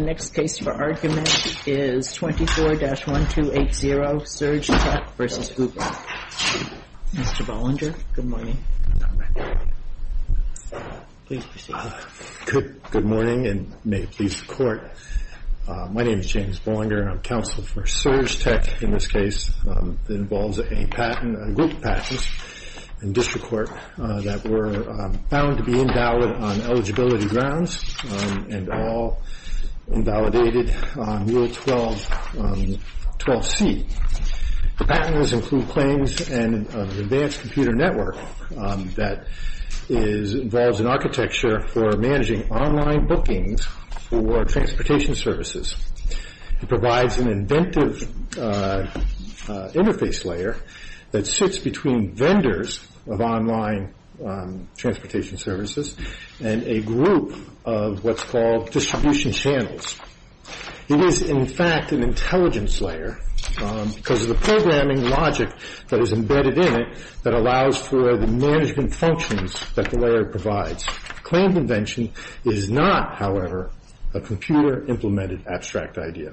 The next case for argument is 24-1280 SurgeTech v. Uber. Mr. Bollinger, good morning. Please proceed. Good morning and may it please the Court. My name is James Bollinger and I'm counsel for SurgeTech in this case. It involves a patent, a group of patents in district court that were found to be invalid on eligibility grounds and all invalidated on Rule 12c. The patents include claims and an advanced computer network that involves an architecture for managing online bookings for transportation services. It provides an inventive interface layer that sits between vendors of online transportation services and a group of what's called distribution channels. It is, in fact, an intelligence layer because of the programming logic that is embedded in it that allows for the management functions that the layer provides. Claim convention is not, however, a computer implemented abstract idea.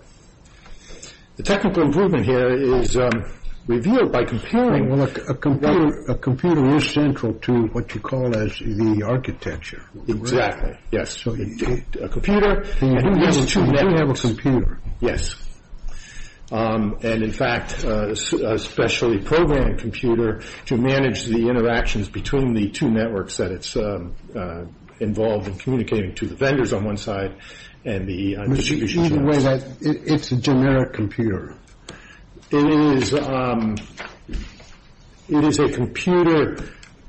The technical improvement here is revealed by comparing Well, a computer is central to what you call as the architecture. Exactly, yes. A computer and you do have a computer. Yes. And, in fact, a specially programmed computer to manage the interactions between the two networks that it's involved in communicating to the vendors on one side and the distribution channels. It's a generic computer. It is a computer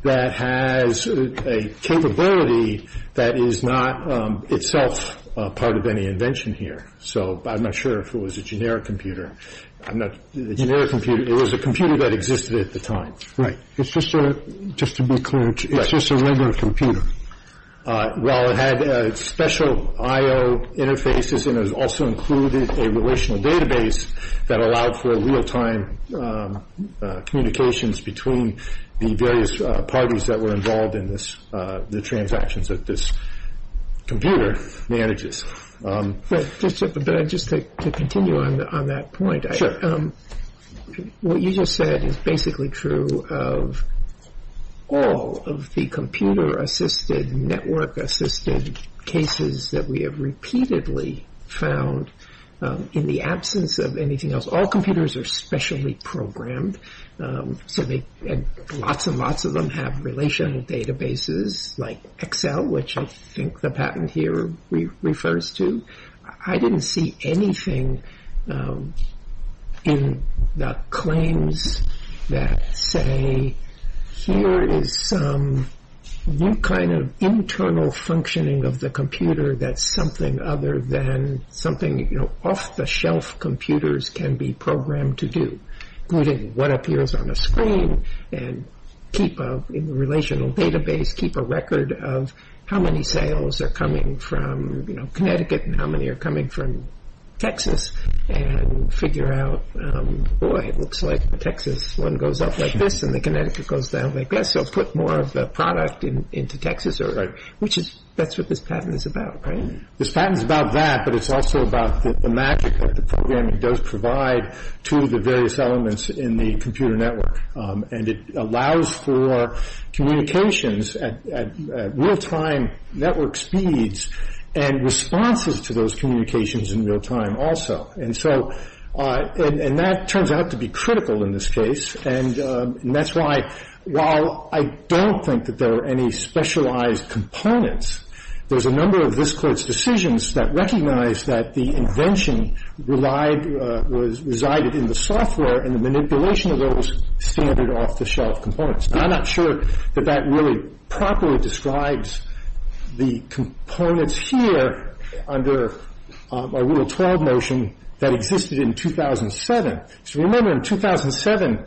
that has a capability that is not itself part of any invention here. So I'm not sure if it was a generic computer. It was a computer that existed at the time. Just to be clear, it's just a regular computer. Well, it had special IO interfaces and it also included a relational database that allowed for real-time communications between the various parties that were involved in the transactions that this computer manages. But just to continue on that point. Sure. What you just said is basically true of all of the computer-assisted, network-assisted cases that we have repeatedly found in the absence of anything else. All computers are specially programmed. Lots and lots of them have relational databases like Excel, which I think the patent here refers to. I didn't see anything in the claims that say, here is some new kind of internal functioning of the computer that's something other than something off-the-shelf computers can be programmed to do, including what appears on a screen and keep a relational database, keep a record of how many sales are coming from Connecticut and how many are coming from Texas, and figure out, boy, it looks like Texas. One goes up like this and the Connecticut goes down like this. So put more of the product into Texas. That's what this patent is about, right? This patent is about that, but it's also about the magic that the programming does provide to the various elements in the computer network. And it allows for communications at real-time network speeds and responses to those communications in real time also. And that turns out to be critical in this case, and that's why while I don't think that there are any specialized components, there's a number of this Court's decisions that recognize that the invention resided in the software and the manipulation of those standard off-the-shelf components. And I'm not sure that that really properly describes the components here under a Rule 12 notion that existed in 2007. So remember in 2007,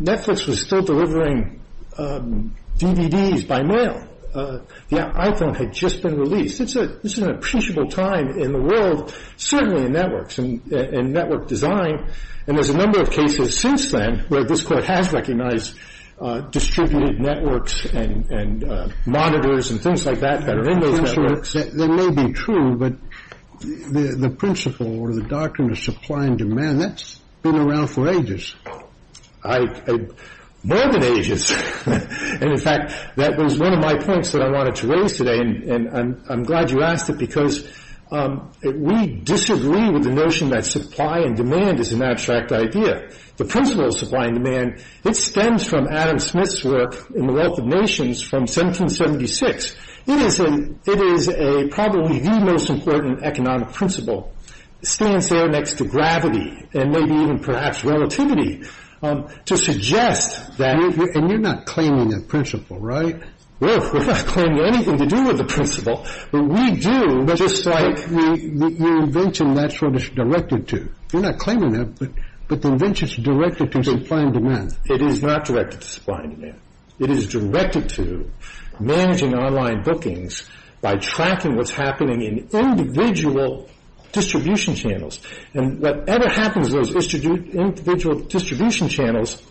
Netflix was still delivering DVDs by mail. The iPhone had just been released. This is an appreciable time in the world, certainly in networks and network design, and there's a number of cases since then where this Court has recognized distributed networks and monitors and things like that that are in those networks. I'm not sure that that may be true, but the principle or the doctrine of supply and demand, that's been around for ages. More than ages. And in fact, that was one of my points that I wanted to raise today, and I'm glad you asked it because we disagree with the notion that supply and demand is an abstract idea. The principle of supply and demand, it stems from Adam Smith's work in The Wealth of Nations from 1776. It is probably the most important economic principle. It stands there next to gravity and maybe even perhaps relativity to suggest that... And you're not claiming a principle, right? We're not claiming anything to do with the principle, but we do, just like your invention, that's what it's directed to. You're not claiming that, but the invention's directed to supply and demand. It is not directed to supply and demand. It is directed to managing online bookings by tracking what's happening in individual distribution channels. And whatever happens to those individual distribution channels,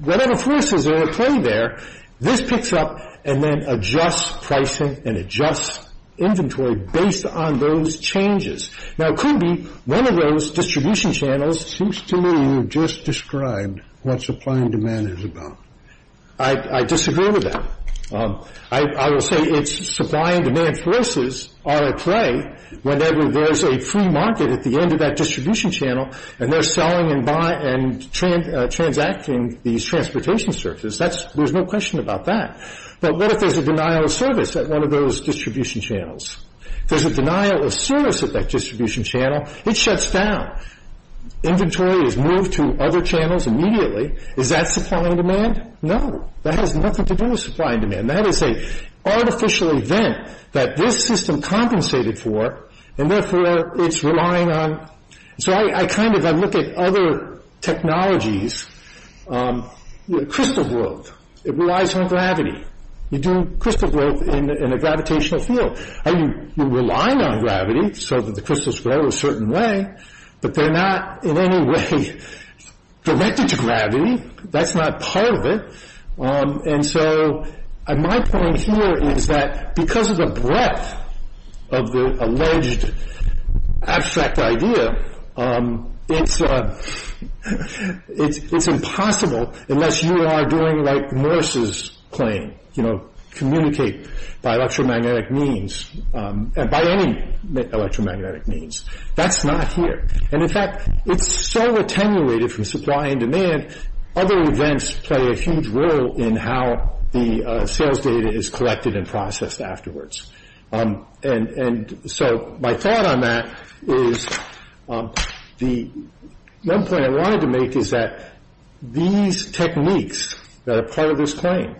whatever forces are at play there, this picks up and then adjusts pricing and adjusts inventory based on those changes. Now, it could be one of those distribution channels... It seems to me you've just described what supply and demand is about. I disagree with that. I will say it's supply and demand forces are at play whenever there's a free market at the end of that distribution channel and they're selling and buying and transacting these transportation services. There's no question about that. But what if there's a denial of service at one of those distribution channels? If there's a denial of service at that distribution channel, it shuts down. Inventory is moved to other channels immediately. Is that supply and demand? No. That has nothing to do with supply and demand. That is an artificial event that this system compensated for, and therefore it's relying on... So I look at other technologies. Crystal growth relies on gravity. You do crystal growth in a gravitational field. Are you relying on gravity so that the crystals grow a certain way? But they're not in any way directed to gravity. That's not part of it. My point here is that because of the breadth of the alleged abstract idea, it's impossible unless you are doing like Morse's claim, communicate by electromagnetic means, by any electromagnetic means. That's not here. In fact, it's so attenuated from supply and demand, other events play a huge role in how the sales data is collected and processed afterwards. And so my thought on that is the one point I wanted to make is that these techniques that are part of this claim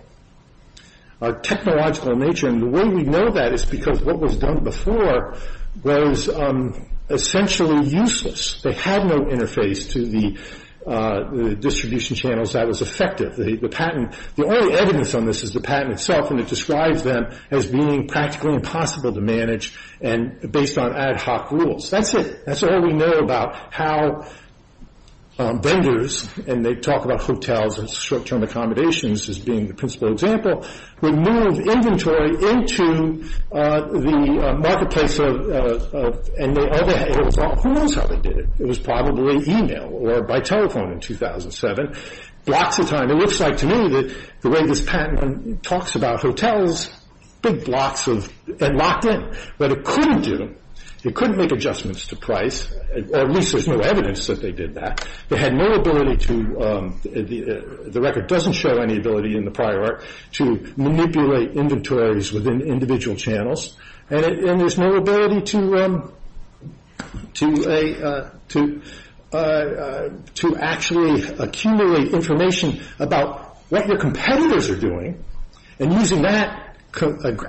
are technological in nature, and the way we know that is because what was done before was essentially useless. They had no interface to the distribution channels that was effective. The only evidence on this is the patent itself, and it describes them as being practically impossible to manage based on ad hoc rules. That's it. That's all we know about how vendors, and they talk about hotels and short-term accommodations as being the principal example, would move inventory into the marketplace. Who knows how they did it? It was probably email or by telephone in 2007, blocks of time. It looks like to me that the way this patent talks about hotels, big blocks that locked in, but it couldn't do them. It couldn't make adjustments to price. At least there's no evidence that they did that. They had no ability to, the record doesn't show any ability in the prior art, to manipulate inventories within individual channels, and there's no ability to actually accumulate information about what your competitors are doing and using that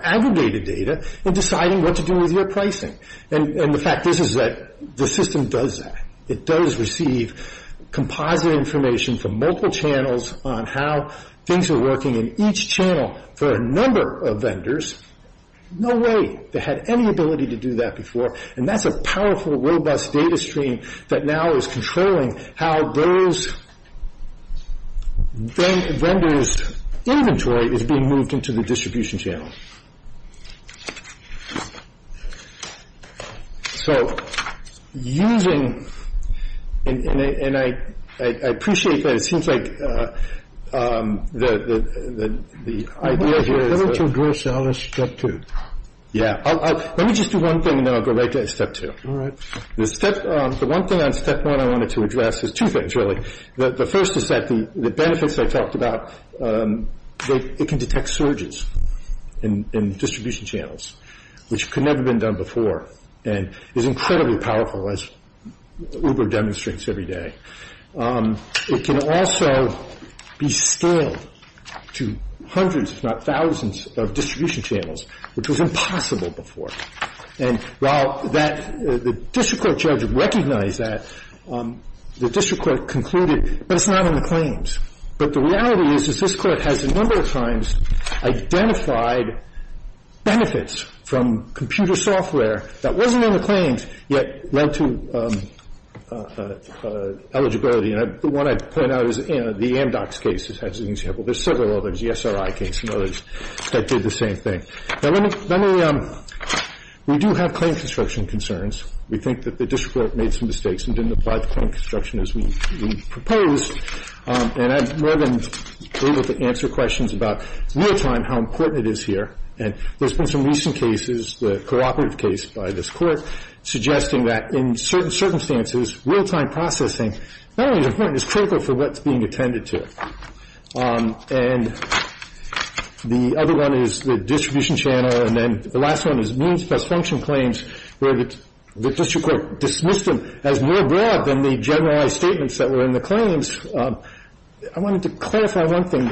aggregated data and deciding what to do with your pricing. And the fact is that the system does that. It does receive composite information from multiple channels on how things are working in each channel for a number of vendors. No way they had any ability to do that before, and that's a powerful, robust data stream that now is controlling how those vendors' inventory is being moved into the distribution channel. So using, and I appreciate that it seems like the idea here is that... Why don't you address all this in Step 2? Yeah, let me just do one thing and then I'll go right to Step 2. All right. The one thing on Step 1 I wanted to address is two things, really. The first is that the benefits I talked about, it can detect surges. In distribution channels, which could never have been done before and is incredibly powerful as Uber demonstrates every day. It can also be scaled to hundreds if not thousands of distribution channels, which was impossible before. And while the district court judge recognized that, the district court concluded, but it's not in the claims. But the reality is, is this court has a number of times identified benefits from computer software that wasn't in the claims yet led to eligibility. And the one I point out is the Amdocs case, as an example. There's several others, the SRI case and others that did the same thing. Now, let me, we do have claim construction concerns. We think that the district court made some mistakes and didn't apply the claim construction as we proposed. And I've more than been able to answer questions about real-time how important it is here. And there's been some recent cases, the cooperative case by this court, suggesting that in certain circumstances, real-time processing not only is important, it's critical for what's being attended to. And the other one is the distribution channel. And then the last one is means plus function claims, where the district court dismissed them as more broad than the generalized statements that were in the claims. I wanted to clarify one thing.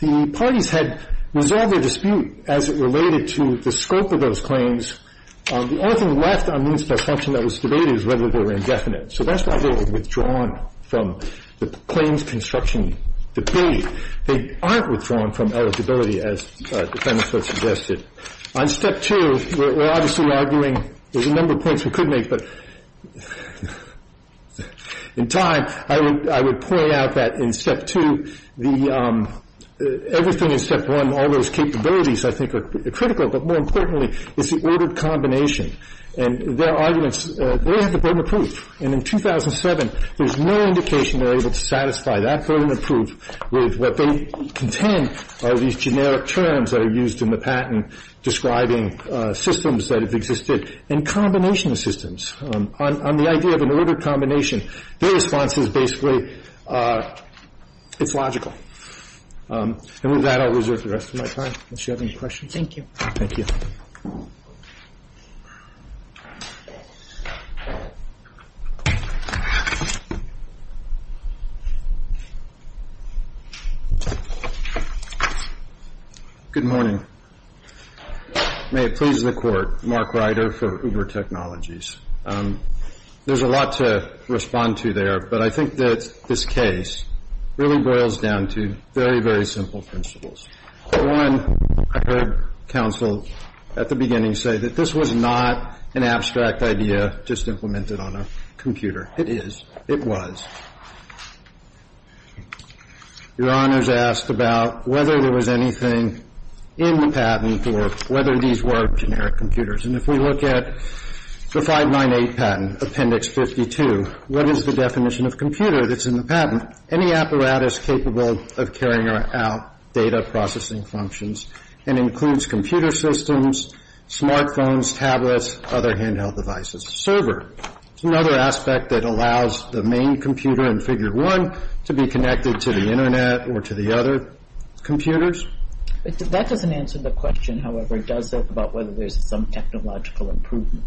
The parties had resolved their dispute as it related to the scope of those claims. The only thing left on means plus function that was debated is whether they were indefinite. So that's why they were withdrawn from the claims construction debate. They aren't withdrawn from eligibility, as the defendants have suggested. On step two, we're obviously arguing, there's a number of points we could make, but in time, I would point out that in step two, everything in step one, all those capabilities I think are critical, but more importantly, is the ordered combination. And their arguments, they have the burden of proof. And in 2007, there's no indication they're able to satisfy that burden of proof with what they contend are these generic terms that are used in the patent describing systems that have existed, and combination systems. On the idea of an ordered combination, their response is basically, it's logical. And with that, I'll reserve the rest of my time, unless you have any questions. Thank you. Thank you. Good morning. May it please the Court, Mark Ryder for Uber Technologies. There's a lot to respond to there, but I think that this case really boils down to very, very simple principles. One, I heard counsel at the beginning say that this was not an abstract idea just implemented on a computer. It is. It was. Your Honors asked about whether there was anything in the patent or whether these were generic computers. And if we look at the 598 patent, Appendix 52, what is the definition of computer that's in the patent? Any apparatus capable of carrying out data processing functions. It includes computer systems, smart phones, tablets, other handheld devices. A server is another aspect that allows the main computer in Figure 1 to be connected to the Internet or to the other computers. That doesn't answer the question, however, does it, about whether there's some technological improvement?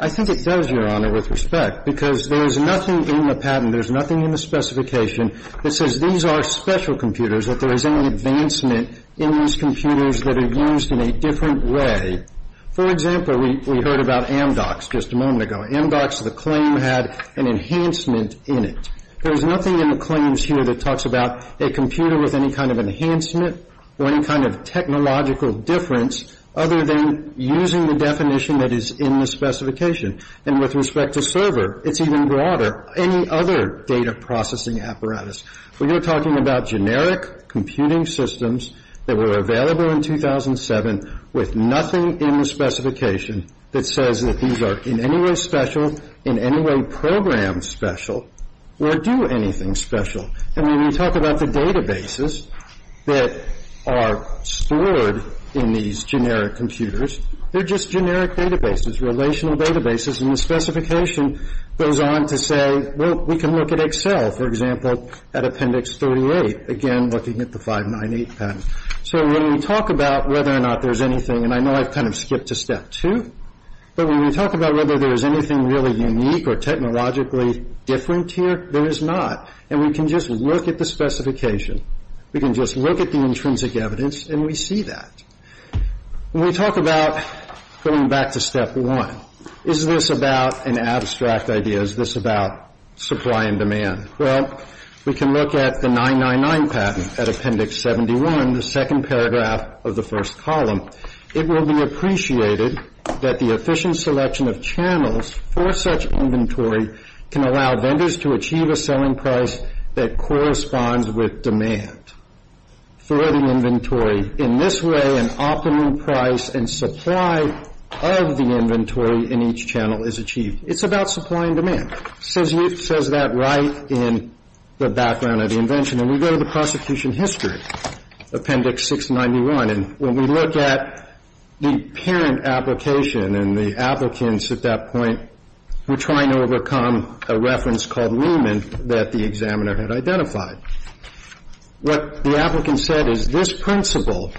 I think it does, Your Honor, with respect. Because there's nothing in the patent, there's nothing in the specification that says these are special computers, that there is any advancement in these computers that are used in a different way. For example, we heard about Amdocs just a moment ago. Amdocs, the claim had an enhancement in it. There's nothing in the claims here that talks about a computer with any kind of enhancement or any kind of technological difference other than using the definition that is in the specification. And with respect to server, it's even broader. Any other data processing apparatus. When you're talking about generic computing systems that were available in 2007 with nothing in the specification that says that these are in any way special, in any way program special, or do anything special. And when you talk about the databases that are stored in these generic computers, they're just generic databases, relational databases. And the specification goes on to say, well, we can look at Excel, for example, at Appendix 38. Again, looking at the 598 patent. So when we talk about whether or not there's anything, and I know I've kind of skipped to Step 2, but when we talk about whether there's anything really unique or technologically different here, there is not. And we can just look at the specification. We can just look at the intrinsic evidence, and we see that. When we talk about going back to Step 1, is this about an abstract idea? Is this about supply and demand? Well, we can look at the 999 patent at Appendix 71, the second paragraph of the first column. It will be appreciated that the efficient selection of channels for such inventory can allow vendors to achieve a selling price that corresponds with demand for the inventory. In this way, an optimum price and supply of the inventory in each channel is achieved. It's about supply and demand. It says that right in the background of the invention. And we go to the prosecution history, Appendix 691, and when we look at the parent application and the applicants at that point, we're trying to overcome a reference called Lehman that the examiner had identified. What the applicant said is this principle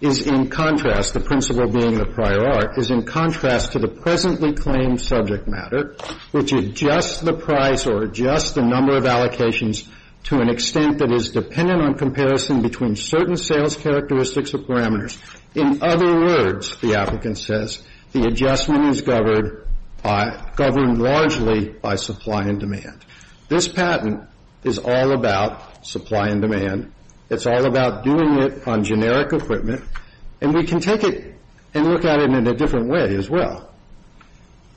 is in contrast, the principle being the prior art, is in contrast to the presently claimed subject matter, which adjusts the price or adjusts the number of allocations to an extent that is dependent on comparison between certain sales characteristics or parameters. In other words, the applicant says, the adjustment is governed largely by supply and demand. This patent is all about supply and demand. It's all about doing it on generic equipment. And we can take it and look at it in a different way as well.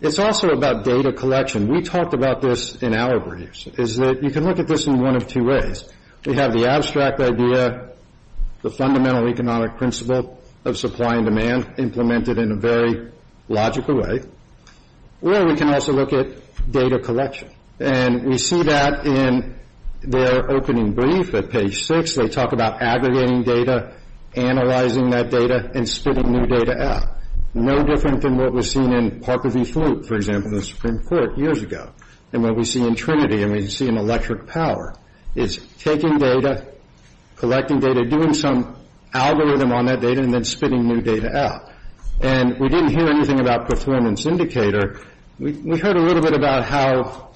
It's also about data collection. We talked about this in our briefs, is that you can look at this in one of two ways. We have the abstract idea, the fundamental economic principle of supply and demand, implemented in a very logical way. Or we can also look at data collection. And we see that in their opening brief at page 6. They talk about aggregating data, analyzing that data, and spitting new data out. No different than what was seen in Parker v. Fluke, for example, in the Supreme Court years ago, and what we see in Trinity, and we see in Electric Power. It's taking data, collecting data, doing some algorithm on that data, and then spitting new data out. And we didn't hear anything about Perthrin and Syndicator. We heard a little bit about how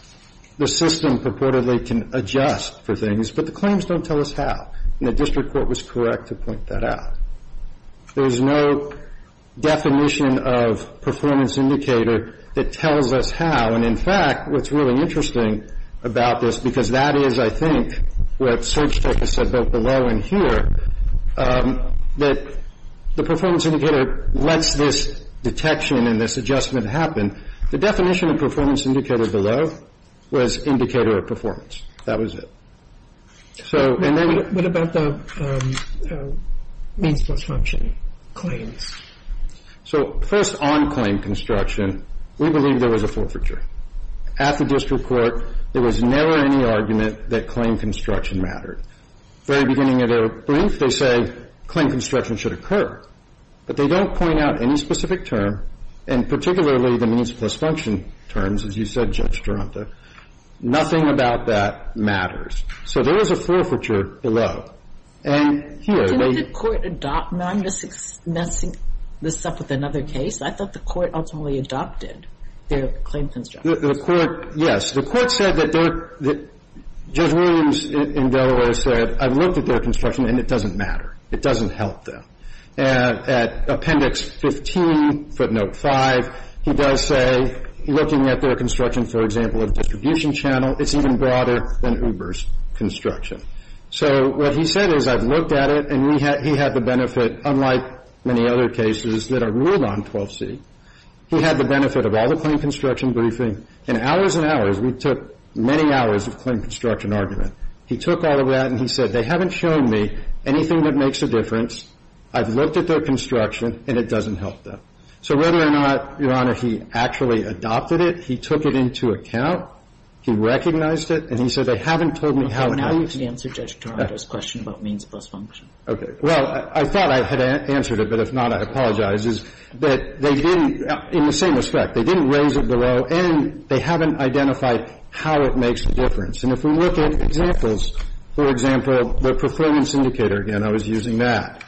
the system purportedly can adjust for things, but the claims don't tell us how. And the district court was correct to point that out. There's no definition of performance indicator that tells us how. And, in fact, what's really interesting about this, because that is, I think, what Search Tech has said both below and here, that the performance indicator lets this detection and this adjustment happen. The definition of performance indicator below was indicator of performance. That was it. So, and then... What about the means plus function claims? So, first, on claim construction, we believe there was a forfeiture. At the district court, there was never any argument that claim construction mattered. At the very beginning of their brief, they say claim construction should occur. But they don't point out any specific term, and particularly the means plus function terms, as you said, Judge Taranto. Nothing about that matters. So there was a forfeiture below. And here, they... Didn't the court adopt? Now, I'm just messing this up with another case. I thought the court ultimately adopted their claim construction. The court, yes. The court said that they're... Judge Williams in Delaware said, I've looked at their construction, and it doesn't matter. It doesn't help them. At appendix 15, footnote 5, he does say, looking at their construction, for example, of distribution channel, it's even broader than Uber's construction. So what he said is, I've looked at it, and he had the benefit, unlike many other cases that are ruled on 12C, he had the benefit of all the claim construction briefing. In hours and hours, we took many hours of claim construction argument. He took all of that, and he said, they haven't shown me anything that makes a difference. I've looked at their construction, and it doesn't help them. So whether or not, Your Honor, he actually adopted it, he took it into account, he recognized it, and he said, they haven't told me how it is. Well, how would you answer Judge Taranto's question about means plus function? Okay. Well, I thought I had answered it, but if not, I apologize, is that they didn't, in the same respect, they didn't raise it below, and they haven't identified how it makes a difference. And if we look at examples, for example, the performance indicator, again, I was using that.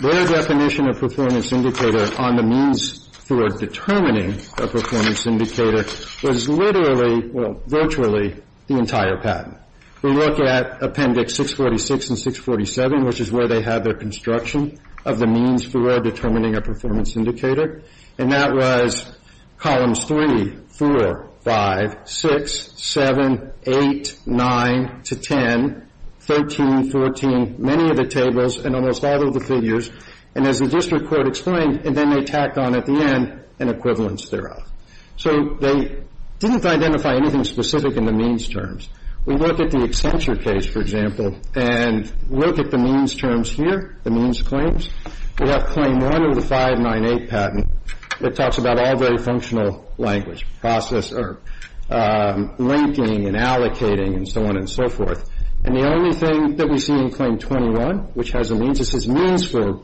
Their definition of performance indicator on the means for determining a performance indicator was literally, well, virtually the entire patent. We look at Appendix 646 and 647, which is where they have their construction of the means for determining a performance indicator, and that was columns 3, 4, 5, 6, 7, 8, 9 to 10, 13, 14, many of the tables, and almost all of the figures, and as the district court explained, and then they tacked on at the end an equivalence thereof. So they didn't identify anything specific in the means terms. We look at the Accenture case, for example, and look at the means terms here, the means claims. We have Claim 1 of the 598 patent. It talks about all very functional language, linking and allocating and so on and so forth, and the only thing that we see in Claim 21, which has a means, this is means for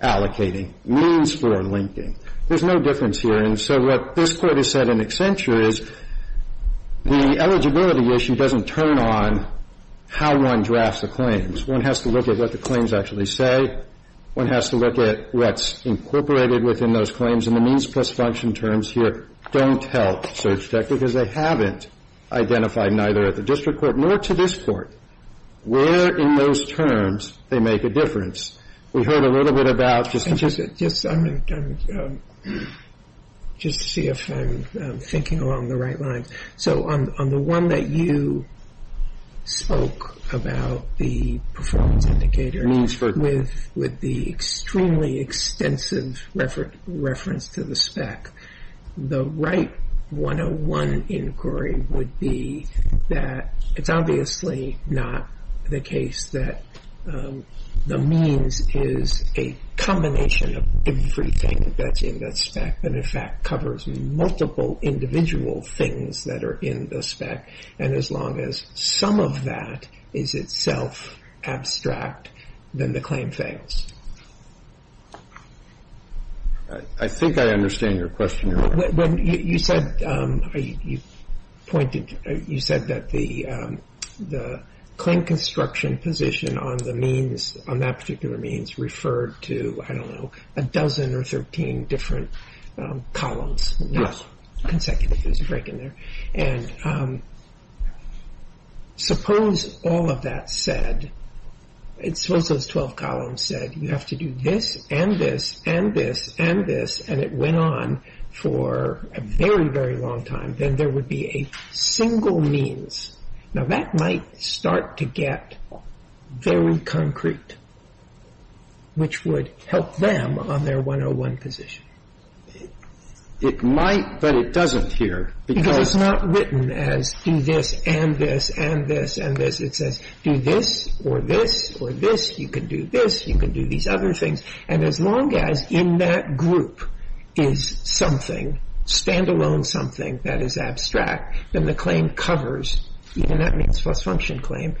allocating, means for linking. There's no difference here, and so what this court has said in Accenture is the eligibility issue doesn't turn on how one drafts the claims. One has to look at what the claims actually say. One has to look at what's incorporated within those claims, and the means plus function terms here don't help search tech because they haven't identified neither at the district court nor to this court where in those terms they make a difference. We heard a little bit about just to see if I'm thinking along the right lines. On the one that you spoke about, the performance indicator, with the extremely extensive reference to the spec, the right 101 inquiry would be that it's obviously not the case that the means is a combination of everything that's in that spec that in fact covers multiple individual things that are in the spec, and as long as some of that is itself abstract, then the claim fails. I think I understand your question. You said that the claim construction position on that particular means referred to, I don't know, a dozen or 13 different columns. Yes. Consecutive, there's a break in there. And suppose all of that said, suppose those 12 columns said you have to do this and this and this and this, and it went on for a very, very long time. Then there would be a single means. Now, that might start to get very concrete, which would help them on their 101 position. It might, but it doesn't here. Because it's not written as do this and this and this and this. It says do this or this or this. You can do this. You can do these other things. And as long as in that group is something, standalone something that is abstract, then the claim covers, even that means false function claim,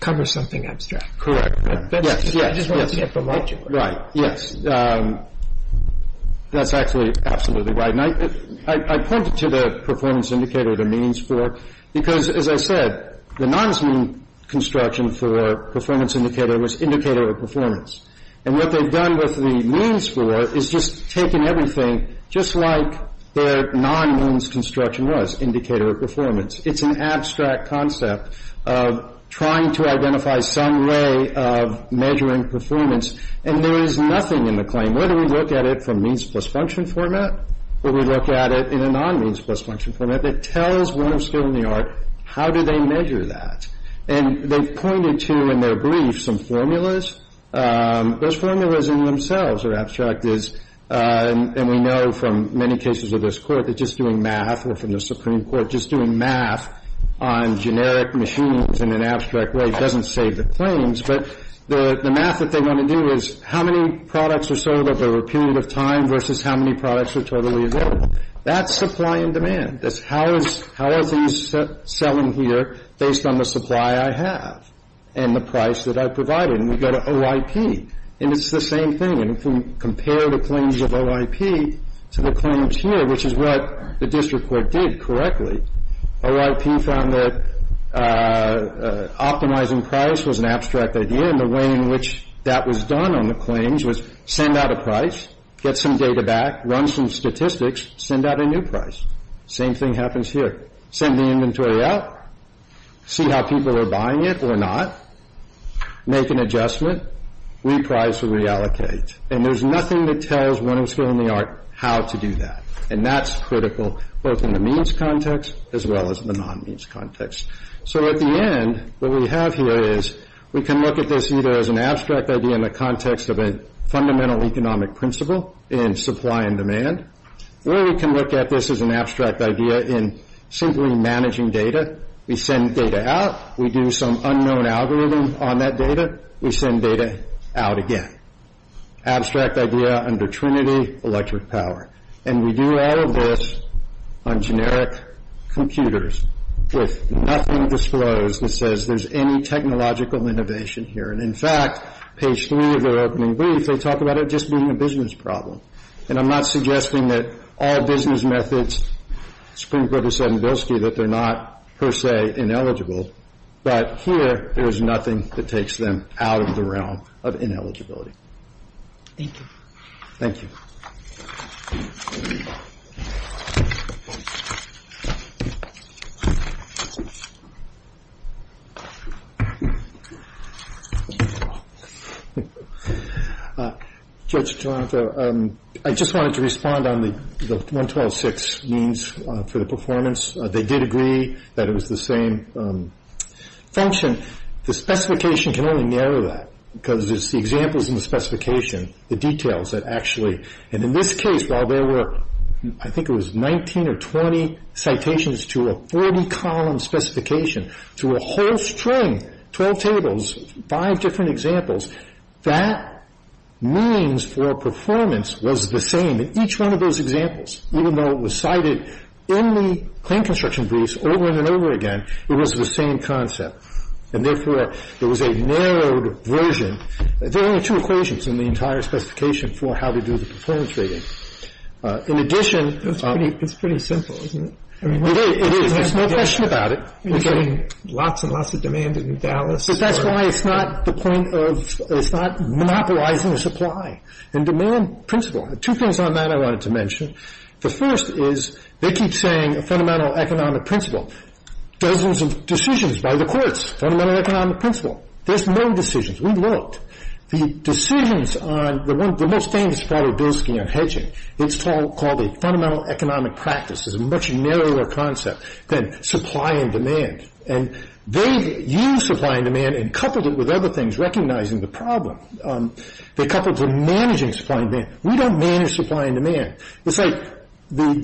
covers something abstract. Correct. Yes. Right. Yes. That's actually absolutely right. And I pointed to the performance indicator, the means for, because as I said, the non-means construction for performance indicator was indicator of performance. And what they've done with the means for is just taken everything, just like their non-means construction was, indicator of performance. It's an abstract concept of trying to identify some way of measuring performance. And there is nothing in the claim, whether we look at it from means plus function format or we look at it in a non-means plus function format, that tells one of skill in the art how do they measure that. And they've pointed to in their brief some formulas. Those formulas in themselves are abstract. And we know from many cases of this court that just doing math or from the Supreme Court, just doing math on generic machines in an abstract way doesn't save the claims. But the math that they want to do is how many products are sold over a period of time versus how many products are totally available. That's supply and demand. That's how is these selling here based on the supply I have and the price that I provided. And we go to OIP. And it's the same thing. If we compare the claims of OIP to the claims here, which is what the district court did correctly, OIP found that optimizing price was an abstract idea. And the way in which that was done on the claims was send out a price, get some data back, run some statistics, send out a new price. Same thing happens here. Send the inventory out. See how people are buying it or not. Make an adjustment. Reprice or reallocate. And there's nothing that tells winning skill in the art how to do that. And that's critical both in the means context as well as the non-means context. So at the end, what we have here is we can look at this either as an abstract idea in the context of a fundamental economic principle in supply and demand, or we can look at this as an abstract idea in simply managing data. We send data out. We do some unknown algorithm on that data. We send data out again. Abstract idea under Trinity electric power. And we do all of this on generic computers with nothing disclosed that says there's any technological innovation here. And, in fact, page 3 of their opening brief, they talk about it just being a business problem. And I'm not suggesting that all business methods, Supreme Court has said in Bilski, that they're not per se ineligible. But here, there is nothing that takes them out of the realm of ineligibility. Thank you. Thank you. Judge Jonathan, I just wanted to respond on the 112.6 means for the performance. They did agree that it was the same function. The specification can only narrow that because it's the examples in the specification, the details that actually. And in this case, while there were, I think it was 19 or 20 citations to a 40-column specification, to a whole string, 12 tables, five different examples, that means for performance was the same in each one of those examples, even though it was cited in the claim construction briefs over and over again, it was the same concept. And, therefore, it was a narrowed version. There are only two equations in the entire specification for how to do the performance rating. In addition. It's pretty simple, isn't it? It is. There's no question about it. We're getting lots and lots of demand in Dallas. But that's why it's not the point of, it's not monopolizing the supply and demand principle. Two things on that I wanted to mention. The first is they keep saying a fundamental economic principle. Dozens of decisions by the courts. Fundamental economic principle. There's no decisions. We've looked. The decisions on the one, the most famous part of Bilski on hedging, it's called a fundamental economic practice. It's a much narrower concept than supply and demand. And they've used supply and demand and coupled it with other things recognizing the problem. They coupled the managing supply and demand. We don't manage supply and demand. It's like the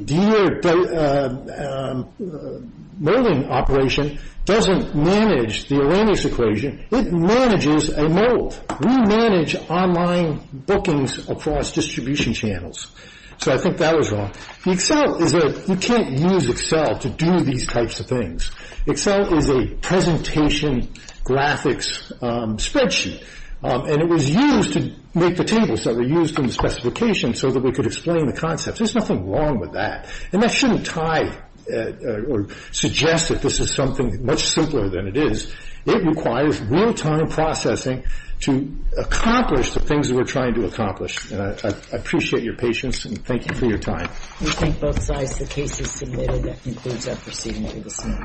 deer molding operation doesn't manage the Arrhenius equation. It manages a mold. We manage online bookings across distribution channels. So I think that was wrong. The Excel is a, you can't use Excel to do these types of things. Excel is a presentation graphics spreadsheet. And it was used to make the tables that were used in the specification so that we could explain the concepts. There's nothing wrong with that. And that shouldn't tie or suggest that this is something much simpler than it is. It requires real-time processing to accomplish the things that we're trying to accomplish. And I appreciate your patience and thank you for your time. We think both sides of the case have submitted. That concludes our proceedings.